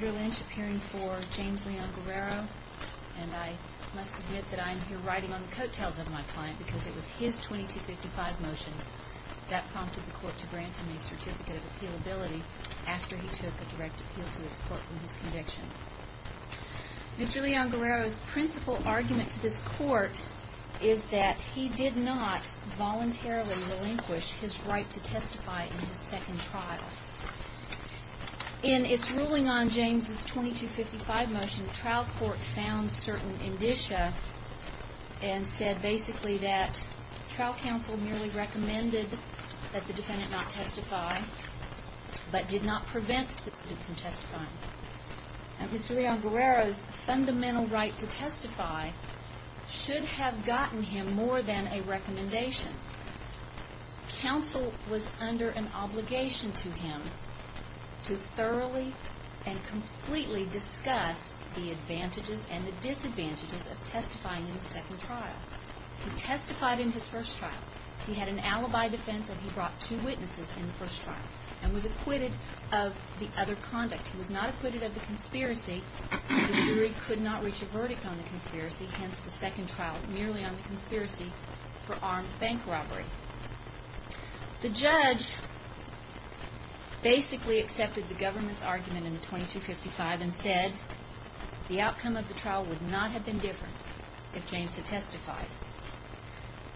Mr. Lynch appearing for James Leon Guerrero, and I must admit that I am here riding on the coattails of my client because it was his 2255 motion that prompted the court to grant him a certificate of appealability after he took a direct appeal to this court for his conviction. Mr. Leon Guerrero's principal argument to this court is that he did not voluntarily relinquish his right to testify in his second trial. In its ruling on James' 2255 motion, the trial court found certain indicia and said basically that trial counsel merely recommended that the defendant not testify, but did not prevent the defendant from testifying. Mr. Leon Guerrero's fundamental right to testify should have gotten him more than a recommendation. Counsel was under an obligation to him to thoroughly and completely discuss the advantages and the disadvantages of testifying in the second trial. He testified in his first trial. He had an alibi defense and he brought two witnesses in the first trial and was acquitted of the other conduct. He was not acquitted of the conspiracy. The jury could not reach a verdict on the conspiracy, hence the second trial, merely on the conspiracy for armed bank robbery. The judge basically accepted the government's argument in the 2255 and said the outcome of the trial would not have been different if James had testified.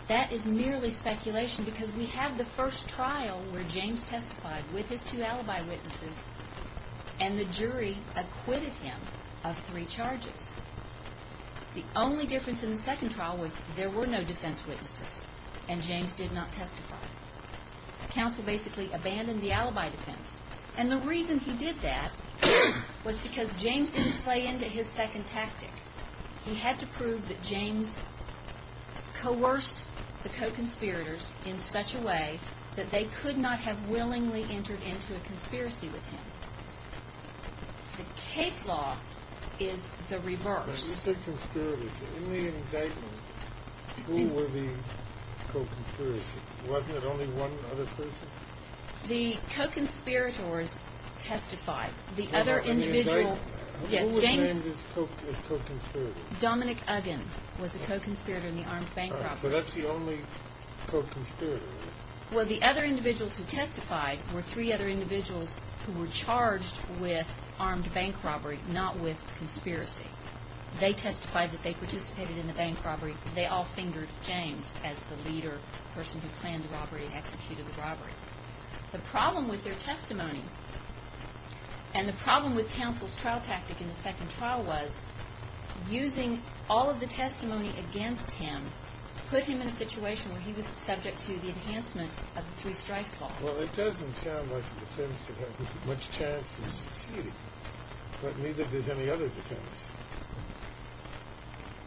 That is merely speculation because we have the first trial where James testified with his two alibi witnesses and the jury acquitted him of three charges. The only difference in the second trial was there were no defense witnesses and James did not testify. Counsel basically abandoned the alibi defense. And the reason he did that was because James didn't play into his second tactic. He had to prove that James coerced the co-conspirators in such a way that they could not have willingly entered into a conspiracy with him. The case law is the reverse. You said conspirators. In the indictment, who were the co-conspirators? Wasn't it only one other person? The co-conspirators testified. The other individual... Who was named as co-conspirators? Dominic Uggen was the co-conspirator in the armed bank robbery. But that's the only co-conspirator, right? Well, the other individuals who testified were three other individuals who were charged with armed bank robbery, not with conspiracy. They testified that they participated in the bank robbery. They all fingered James as the leader, the person who planned the robbery and executed the robbery. The problem with their testimony and the problem with counsel's trial tactic in the second trial was using all of the testimony against him put him in a situation where he was subject to the enhancement of the three strikes law. Well, it doesn't sound like a defense that had much chance of succeeding, but neither does any other defense.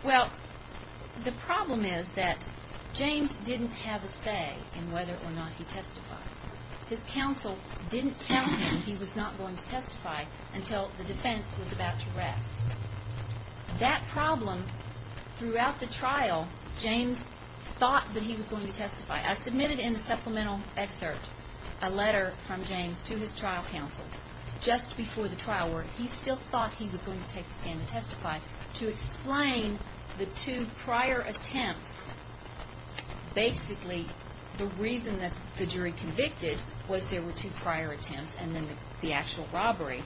Well, the problem is that James didn't have a say in whether or not he testified. His counsel didn't tell him he was not going to testify until the defense was about to rest. That problem, throughout the trial, James thought that he was going to testify. I submitted in the supplemental excerpt a letter from James to his trial counsel just before the trial where he still thought he was going to take the stand and testify to explain the two prior attempts. Basically, the reason that the jury convicted was there were two prior attempts and then the actual robbery.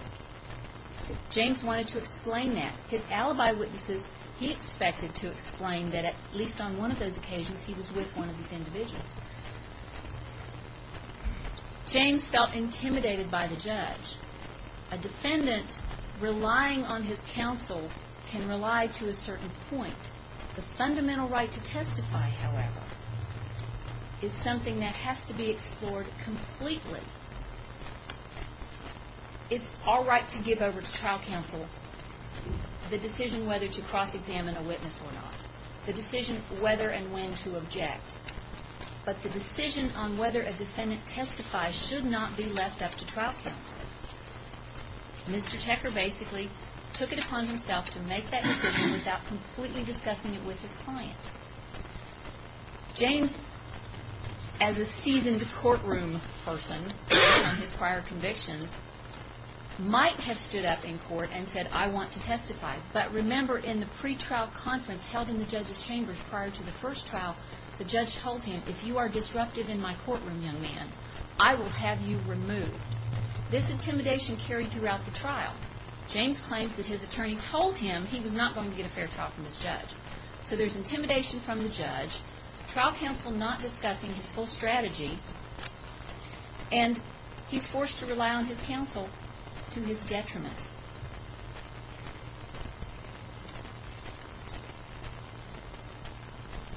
James wanted to explain that. His alibi witnesses, he expected to explain that at least on one of those occasions he was with one of these individuals. James felt intimidated by the judge. A defendant relying on his counsel can rely to a certain point. The fundamental right to testify, however, is something that has to be explored completely. It's our right to give over to trial counsel the decision whether to cross-examine a witness or not, the decision whether and when to object. But the decision on whether a defendant testifies should not be left up to trial counsel. Mr. Tecker basically took it upon himself to make that decision without completely discussing it with his client. James, as a seasoned courtroom person based on his prior convictions, might have stood up in court and said, I want to testify. But remember in the pretrial conference held in the judge's chambers prior to the first trial, the judge told him, if you are disruptive in my courtroom, young man, I will have you removed. This intimidation carried throughout the trial. James claims that his attorney told him he was not going to get a fair trial from this judge. So there's intimidation from the judge, trial counsel not discussing his full strategy, and he's forced to rely on his counsel to his detriment.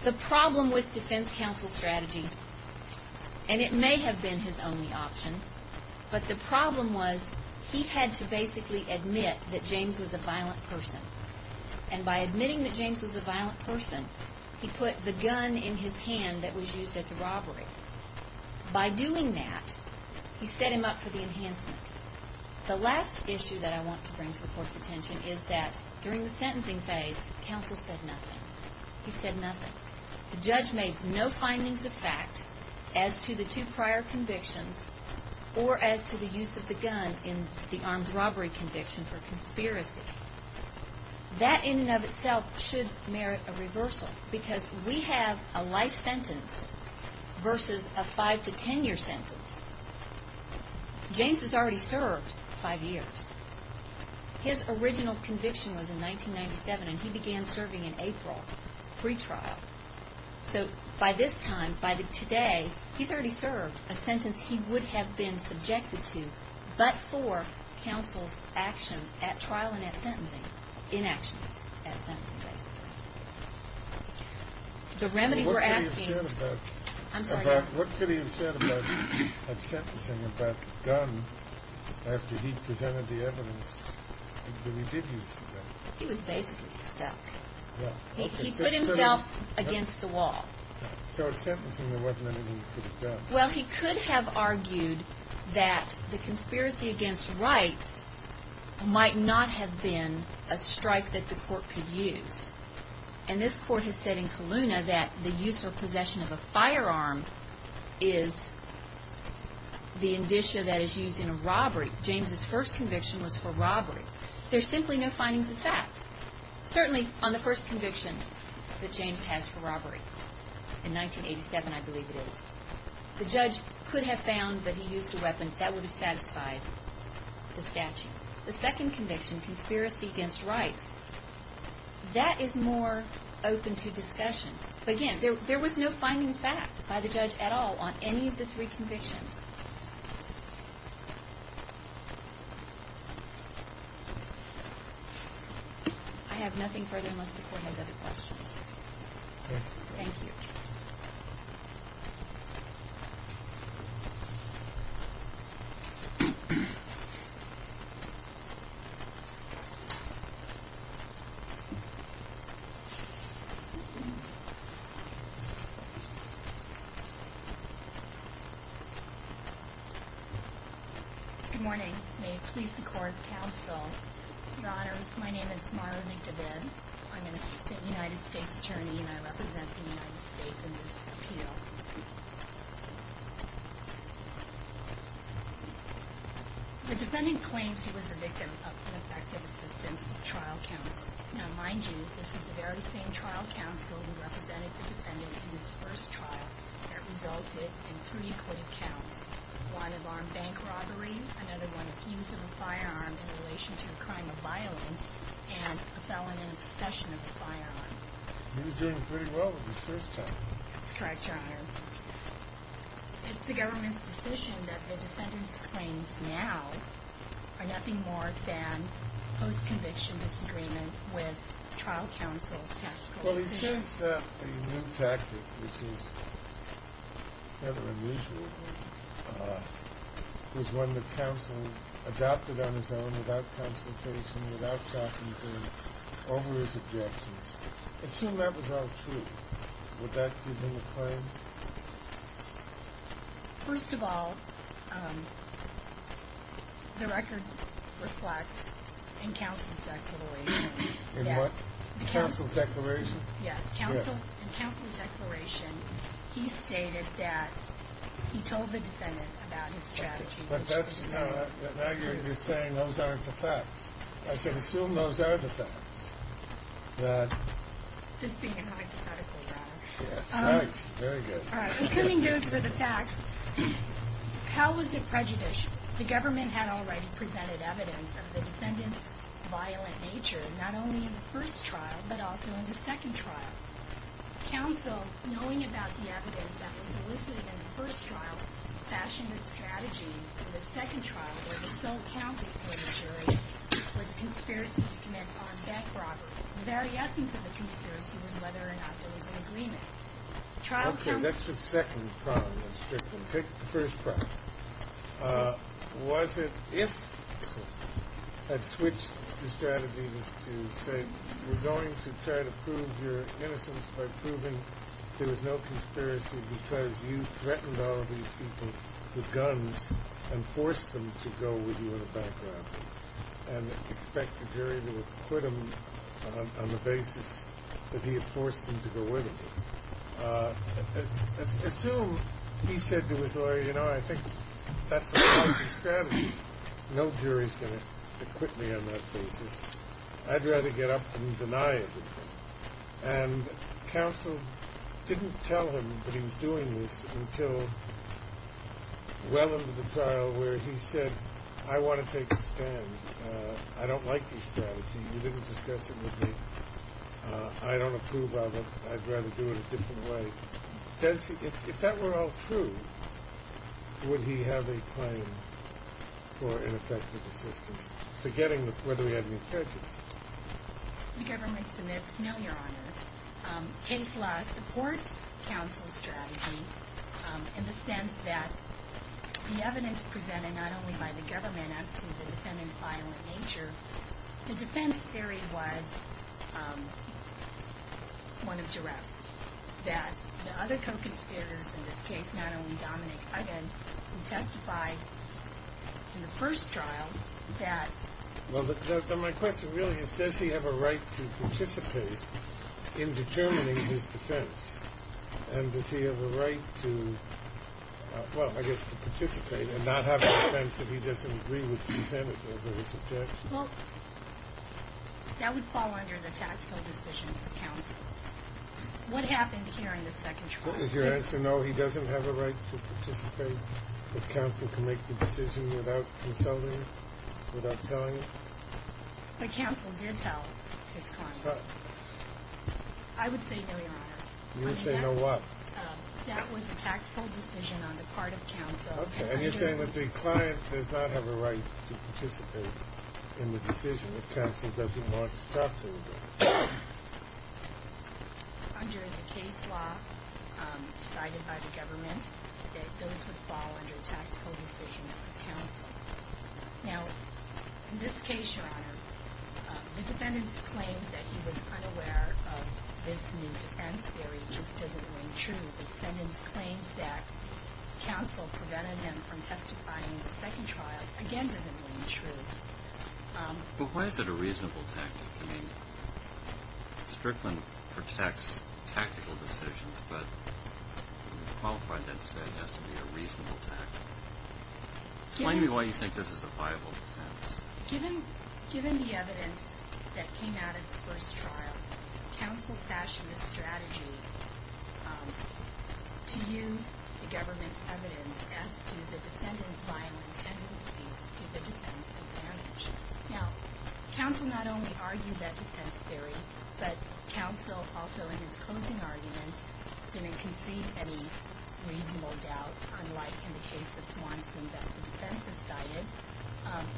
The problem with defense counsel strategy, and it may have been his only option, but the problem was he had to basically admit that James was a violent person. And by admitting that James was a violent person, he put the gun in his hand that was used at the robbery. By doing that, he set him up for the enhancement. The last issue that I want to bring to the court's attention is that during the sentencing phase, counsel said nothing. He said nothing. The judge made no findings of fact as to the two prior convictions or as to the use of the gun in the armed robbery conviction for conspiracy. That in and of itself should merit a reversal because we have a life sentence versus a five to ten year sentence. James has already served five years. His original conviction was in 1997, and he began serving in April, pre-trial. So by this time, by today, he's already served a sentence he would have been subjected to but for counsel's actions at trial and at sentencing, inactions at sentencing, basically. The remedy we're asking is... I'm sorry. He was basically stuck. He put himself against the wall. Well, he could have argued that the conspiracy against rights might not have been a strike that the court could use. And this court has said in Kelowna that the use or possession of a firearm is the indicia that is used in a robbery. James' first conviction was for robbery. There's simply no findings of fact. Certainly on the first conviction that James has for robbery in 1987, I believe it is, the judge could have found that he used a weapon that would have satisfied the statute. The second conviction, conspiracy against rights, that is more open to discussion. But again, there was no finding of fact by the judge at all on any of the three convictions. I have nothing further unless the court has other questions. Thank you. Thank you. Good morning. May it please the court, counsel, your honors. My name is Marla McDivitt. I'm an assistant United States attorney, and I represent the United States in this appeal. The defendant claims he was the victim of ineffective assistance of trial counsel. Now, mind you, this is the very same trial counsel who represented the defendant in his first trial. That resulted in three court counts, one of armed bank robbery, another one of use of a firearm in relation to a crime of violence, and a felon in possession of a firearm. He was doing pretty well with his first time. That's correct, your honor. It's the government's decision that the defendant's claims now are nothing more than post-conviction disagreement with trial counsel's tactical decisions. Well, he says that the new tactic, which is kind of unusual, was one that counsel adopted on his own without consultation, without talking to him over his objections. Assume that was all true. Would that give him a claim? First of all, the record reflects in counsel's declaration. In what? Counsel's declaration? Yes, in counsel's declaration, he stated that he told the defendant about his strategy. Now you're saying those aren't the facts. I should assume those are the facts. This being hypothetical, rather. Very good. Assuming those are the facts, how was it prejudiced? The government had already presented evidence of the defendant's violent nature, not only in the first trial, but also in the second trial. Counsel, knowing about the evidence that was elicited in the first trial, fashioned a strategy in the second trial where the sole count is for the jury. It was conspiracy to commit armed bank robbery. The very essence of the conspiracy was whether or not there was an agreement. Okay, that's the second problem. Let's take the first problem. Was it if counsel had switched the strategies to say, we're going to try to prove your innocence by proving there was no conspiracy because you threatened all of these people with guns and forced them to go with you in a bank robbery and expect the jury to acquit him on the basis that he had forced them to go with him? Assume he said to his lawyer, you know, I think that's a policy strategy. No jury's going to acquit me on that basis. I'd rather get up and deny it. And counsel didn't tell him that he was doing this until well into the trial where he said, I want to take a stand. I don't like this strategy. You didn't discuss it with me. I don't approve of it. I'd rather do it a different way. If that were all true, would he have a claim for ineffective assistance, forgetting whether he had any prejudice? The government submits no, Your Honor. Case law supports counsel's strategy in the sense that the evidence presented not only by the government as to the defendant's violent nature, the defense theory was one of duress, that the other co-conspirators in this case, not only Dominic Uggen, who testified in the first trial that... Well, my question really is, does he have a right to participate in determining his defense? And does he have a right to, well, I guess to participate and not have a defense if he doesn't agree with the defendant over his objection? Well, that would fall under the tactical decisions of counsel. What happened here in the second trial? Is your answer no, he doesn't have a right to participate, but counsel can make the decision without consulting, without telling him? But counsel did tell his client. I would say no, Your Honor. You would say no what? That was a tactical decision on the part of counsel. Okay, and you're saying that the client does not have a right to participate in the decision if counsel doesn't want to talk to him? Under the case law cited by the government, those would fall under tactical decisions of counsel. Now, in this case, Your Honor, the defendant's claims that he was unaware of this new defense theory just doesn't ring true. The defendant's claims that counsel prevented him from testifying in the second trial, again, doesn't ring true. But why is it a reasonable tactic? I mean, Strickland protects tactical decisions, but the qualified defense has to be a reasonable tactic. Explain to me why you think this is a viable defense. Given the evidence that came out of the first trial, counsel fashioned a strategy to use the government's evidence as to the defendant's violent tendencies to the defense advantage. Now, counsel not only argued that defense theory, but counsel also in his closing arguments didn't concede any reasonable doubt, unlike in the case of Swanson that the defense has cited.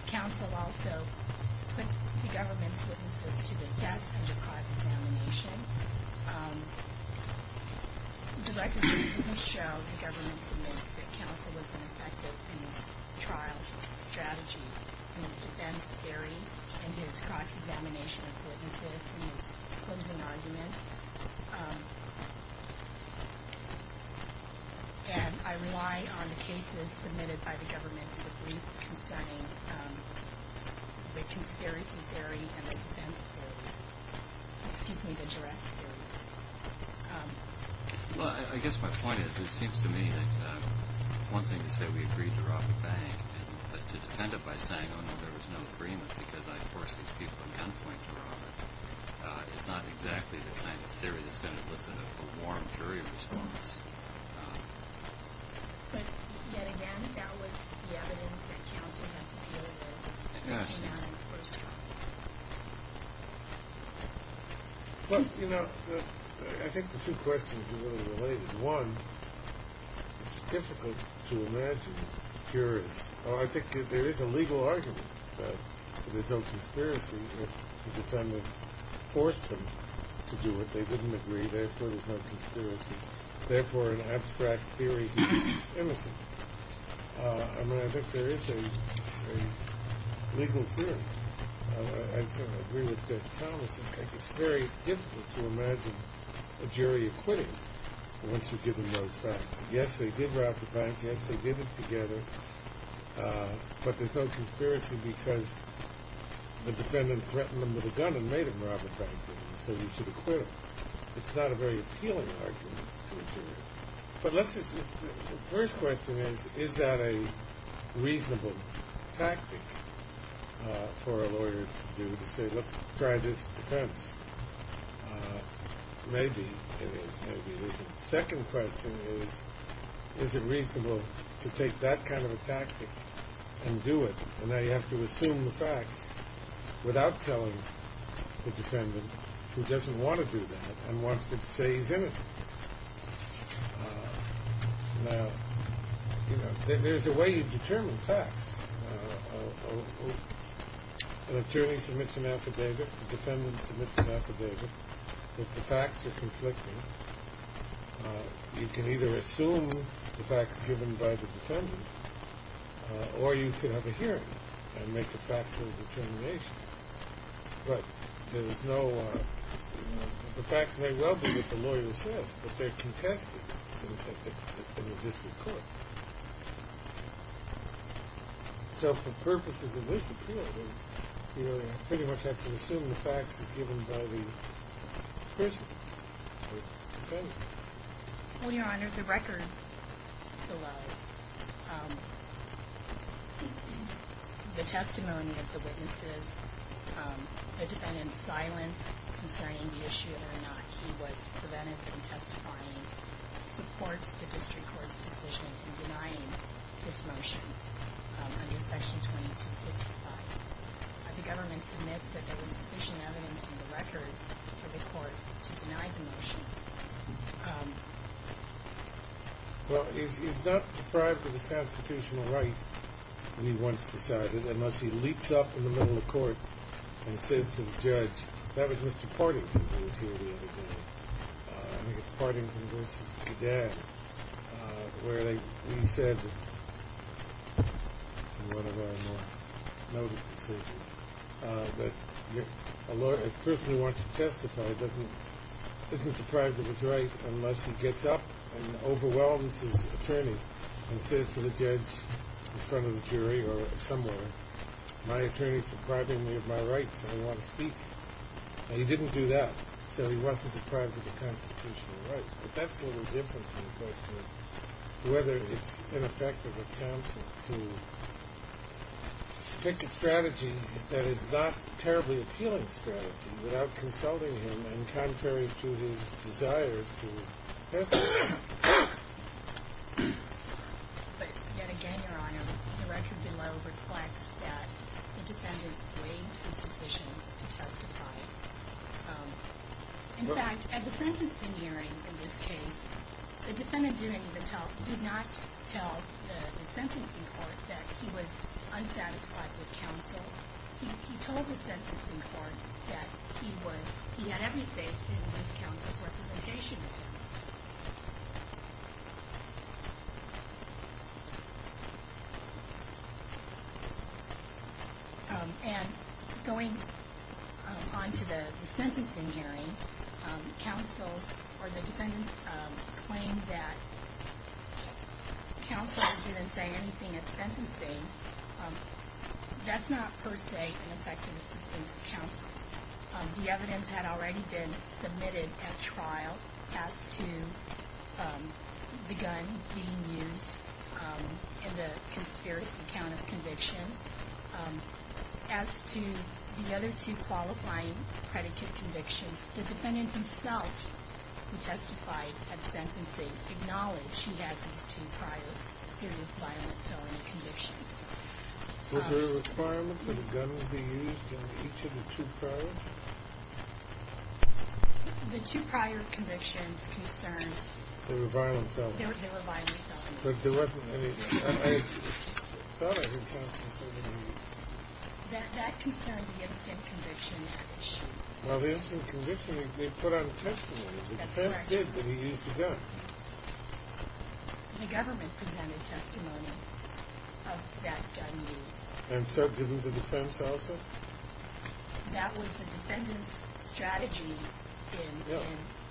Counsel also put the government's witnesses to the test under cross-examination. The record doesn't show the government's admittance that counsel was ineffective in his trial strategy and his defense theory and his cross-examination of witnesses in his closing arguments. And I rely on the cases submitted by the government in the brief concerning the conspiracy theory and the defense theory. Excuse me, the jurassic theory. Well, I guess my point is it seems to me that it's one thing to say we agreed to rob a bank, and to defend it by saying, oh, no, there was no agreement because I forced these people to gunpoint to rob it, is not exactly the kind of theory that's going to elicit a warm jury response. But yet again, that was the evidence that counsel had to deal with in the first trial. Well, you know, I think the two questions are related. One, it's difficult to imagine jurors. I think there is a legal argument that there's no conspiracy. The defendant forced them to do it. They didn't agree. Therefore, there's no conspiracy. Therefore, an abstract theory is innocent. I mean, I think there is a legal theory. I agree with Judge Thomas. I think it's very difficult to imagine a jury acquitting once you've given those facts. Yes, they did rob a bank. Yes, they did it together. But there's no conspiracy because the defendant threatened them with a gun and made them rob a bank. So you should acquit them. It's not a very appealing argument to a jury. But the first question is, is that a reasonable tactic for a lawyer to do, to say, let's try this defense? Maybe it is, maybe it isn't. The second question is, is it reasonable to take that kind of a tactic and do it? And now you have to assume the facts without telling the defendant who doesn't want to do that and wants to say he's innocent. Now, you know, there's a way you determine facts. An attorney submits an affidavit. The defendant submits an affidavit. If the facts are conflicting, you can either assume the facts given by the defendant, or you could have a hearing and make a factual determination. But there's no – the facts may well be what the lawyer says, but they're contested in the district court. So for purposes of this appeal, you pretty much have to assume the facts are given by the person, the defendant. Well, Your Honor, the record below, the testimony of the witnesses, the defendant's silence concerning the issue whether or not he was prevented from testifying, supports the district court's decision in denying this motion under Section 2255. The government submits that there was sufficient evidence in the record for the court to deny the motion. Well, he's not deprived of his constitutional right, we once decided, unless he leaps up in the middle of court and says to the judge, That was Mr. Partington who was here the other day. I think it was Partington v. Dad, where he said in one of our more noted decisions that a person who wants to testify isn't deprived of his right unless he gets up and overwhelms his attorney and says to the judge in front of the jury or somewhere, My attorney's depriving me of my right so I want to speak. Now, he didn't do that, so he wasn't deprived of a constitutional right. But that's a little different from the question of whether it's ineffective of counsel to pick a strategy that is not a terribly appealing strategy without consulting him and contrary to his desire to testify. But yet again, Your Honor, the record below reflects that the defendant waived his decision to testify. In fact, at the sentencing hearing in this case, the defendant did not tell the sentencing court that he was unsatisfied with counsel. He told the sentencing court that he had every faith in his counsel's representation of him. And going on to the sentencing hearing, counsel's or the defendant's claim that counsel didn't say anything at sentencing, that's not per se an effective assistance of counsel. The evidence had already been submitted at trial as to the gun being used in the conspiracy count of conviction. As to the other two qualifying predicate convictions, the defendant himself who testified at sentencing acknowledged he had these two prior serious violent felony convictions. Was there a requirement that a gun be used in each of the two prior? The two prior convictions concerned... They were violent felonies. They were violent felonies. But there wasn't any... That concerned the instant conviction. Well, the instant conviction, they put on testimony. The defense did, but he used a gun. The government presented testimony of that gun use. And so did the defense also? That was the defendant's strategy in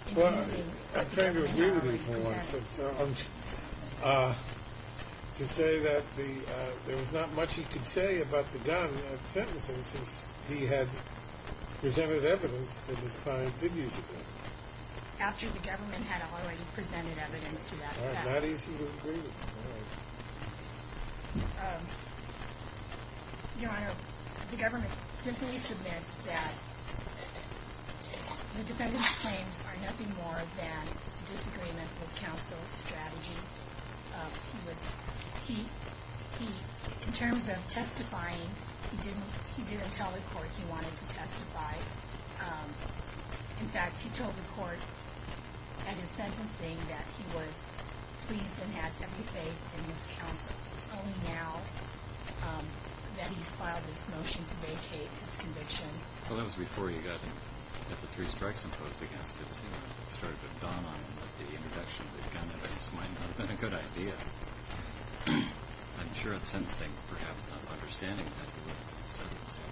using... I'm trying to agree with you for once. To say that there was not much he could say about the gun at sentencing since he had presented evidence that his client did use a gun. After the government had already presented evidence to that effect. I'm not easy to agree with. Your Honor, the government simply submits that the defendant's claims are nothing more than disagreement with counsel's strategy. In terms of testifying, he didn't tell the court he wanted to testify. In fact, he told the court at his sentencing that he was pleased and had every faith in his counsel. It's only now that he's filed this motion to vacate his conviction. Well, that was before you got him. After three strikes imposed against him, it started to dawn on him that the introduction of the gun evidence might not have been a good idea. I'm sure at sentencing, perhaps not understanding that, he would have said he was happy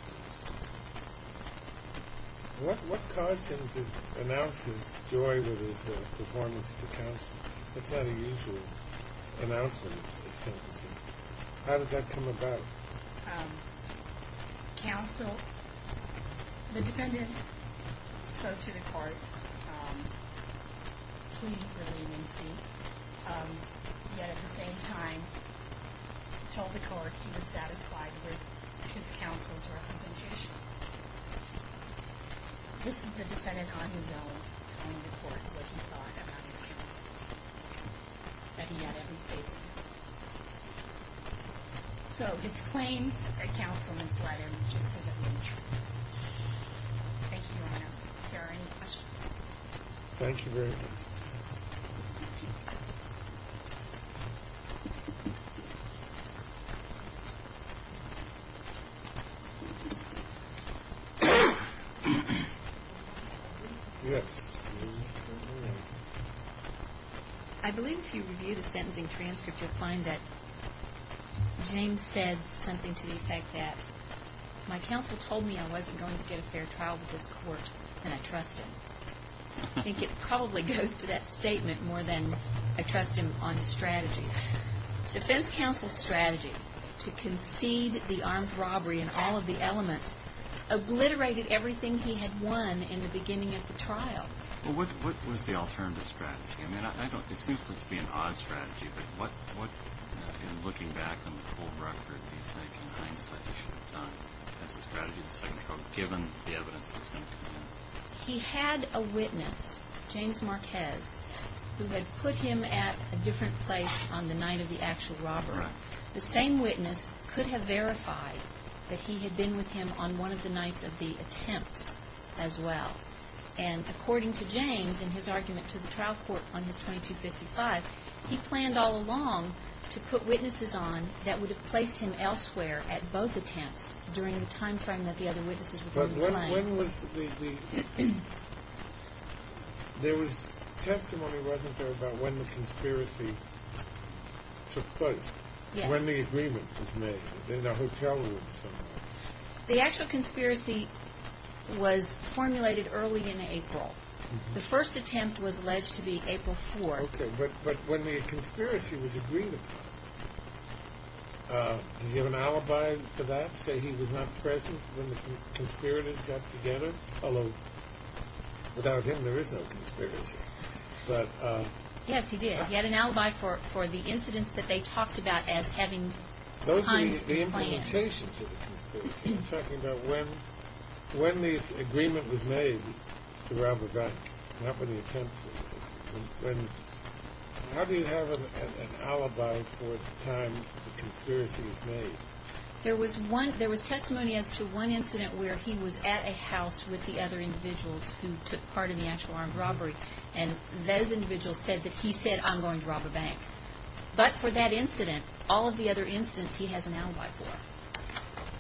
to testify. What caused him to announce his joy with his performance to counsel? That's not a usual announcement at sentencing. How did that come about? Counsel... The defendant spoke to the court, pleaded for leniency, yet at the same time, he told the court he was satisfied with his counsel's representation. This is the defendant on his own telling the court what he thought about his counsel, that he had every faith in him. So his claims that counsel misled him just doesn't mean true. Thank you, Your Honor. If there are any questions... Thank you very much. Thank you. I believe if you review the sentencing transcript, you'll find that James said something to the effect that my counsel told me I wasn't going to get a fair trial with this court, and I trust him. I think it probably goes to that statement more than I trust him on his strategy. Defense counsel's strategy to concede the armed robbery and all of the elements obliterated everything he had won in the beginning of the trial. Well, what was the alternative strategy? I mean, it seems to be an odd strategy, but what, in looking back on the full record, do you think, in hindsight, you should have done as a strategy in the second trial, given the evidence that was going to come in? He had a witness, James Marquez, who had put him at a different place on the night of the actual robbery. The same witness could have verified that he had been with him on one of the nights of the attempts as well. And according to James in his argument to the trial court on his 2255, he planned all along to put witnesses on that would have placed him elsewhere at both attempts during the time frame that the other witnesses were going to claim. When was the... There was testimony, wasn't there, about when the conspiracy took place? Yes. When the agreement was made, in a hotel room somewhere. The actual conspiracy was formulated early in April. The first attempt was alleged to be April 4th. Okay, but when the conspiracy was agreed upon, does he have an alibi for that, to say he was not present when the conspirators got together? Although, without him, there is no conspiracy. But... Yes, he did. He had an alibi for the incidents that they talked about as having times planned. Those are the implementations of the conspiracy. I'm talking about when the agreement was made to rob a bank, not when the attempts were made. When... How do you have an alibi for the time the conspiracy was made? There was testimony as to one incident where he was at a house with the other individuals who took part in the actual armed robbery, and those individuals said that he said, I'm going to rob a bank. But for that incident, all of the other incidents, he has an alibi for.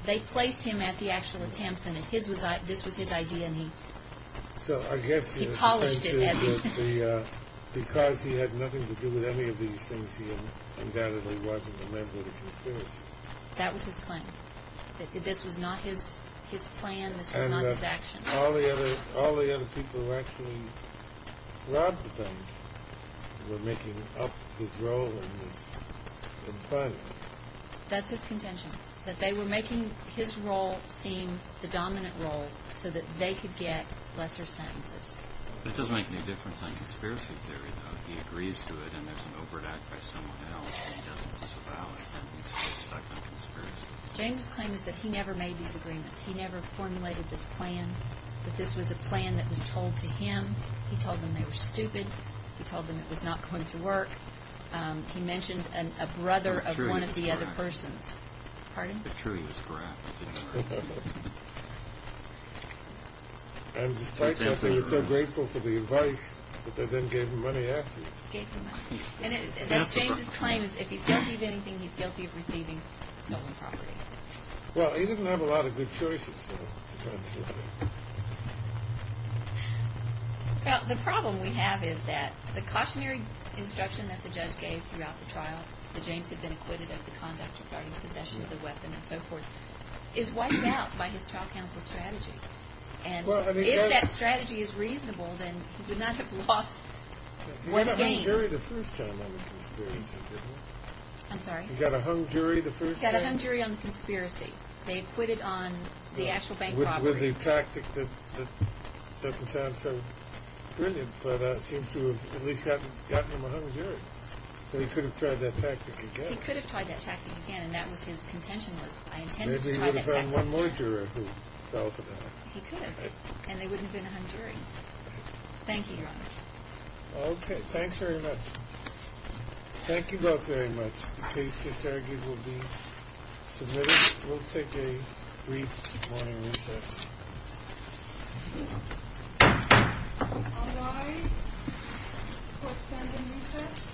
They placed him at the actual attempts, and this was his idea, and he... So, I guess... He polished it. Because he had nothing to do with any of these things, he undoubtedly wasn't a member of the conspiracy. That was his plan. This was not his plan, this was not his action. And all the other people who actually robbed the bank were making up his role in planning. That's his contention, that they were making his role seem the dominant role so that they could get lesser sentences. That doesn't make any difference on conspiracy theory, though. He agrees to it, and there's an overt act by someone else, and he doesn't disavow it, and he's stuck on conspiracy. James claims that he never made these agreements. He never formulated this plan, that this was a plan that was told to him. He told them they were stupid. He told them it was not going to work. He mentioned a brother of one of the other persons. Pardon? The truth is correct. And despite that, they were so grateful for the advice that they then gave him money afterwards. Gave him money. And that's James's claim, is if he's guilty of anything, he's guilty of receiving stolen property. Well, he didn't have a lot of good choices, so... Well, the problem we have is that the cautionary instruction that the judge gave throughout the trial, that James had been acquitted of the conduct regarding possession of the weapon and so forth, is wiped out by his trial counsel strategy. And if that strategy is reasonable, then he would not have lost the game. He got a hung jury the first time on the conspiracy, didn't he? I'm sorry? He got a hung jury the first time? He got a hung jury on the conspiracy. They acquitted on the actual bank robbery. With a tactic that doesn't sound so brilliant, but it seems to have at least gotten him a hung jury. So he could have tried that tactic again. He could have tried that tactic again, and that was his contention was, I intended to try that tactic again. Maybe he would have had one more juror who fell for that. He could have. And they wouldn't have been a hung jury. Thank you, Your Honor. Okay, thanks very much. Thank you both very much. The case gets argued will be submitted. We'll take a brief morning recess. All rise. Court's been in recess. Thank you.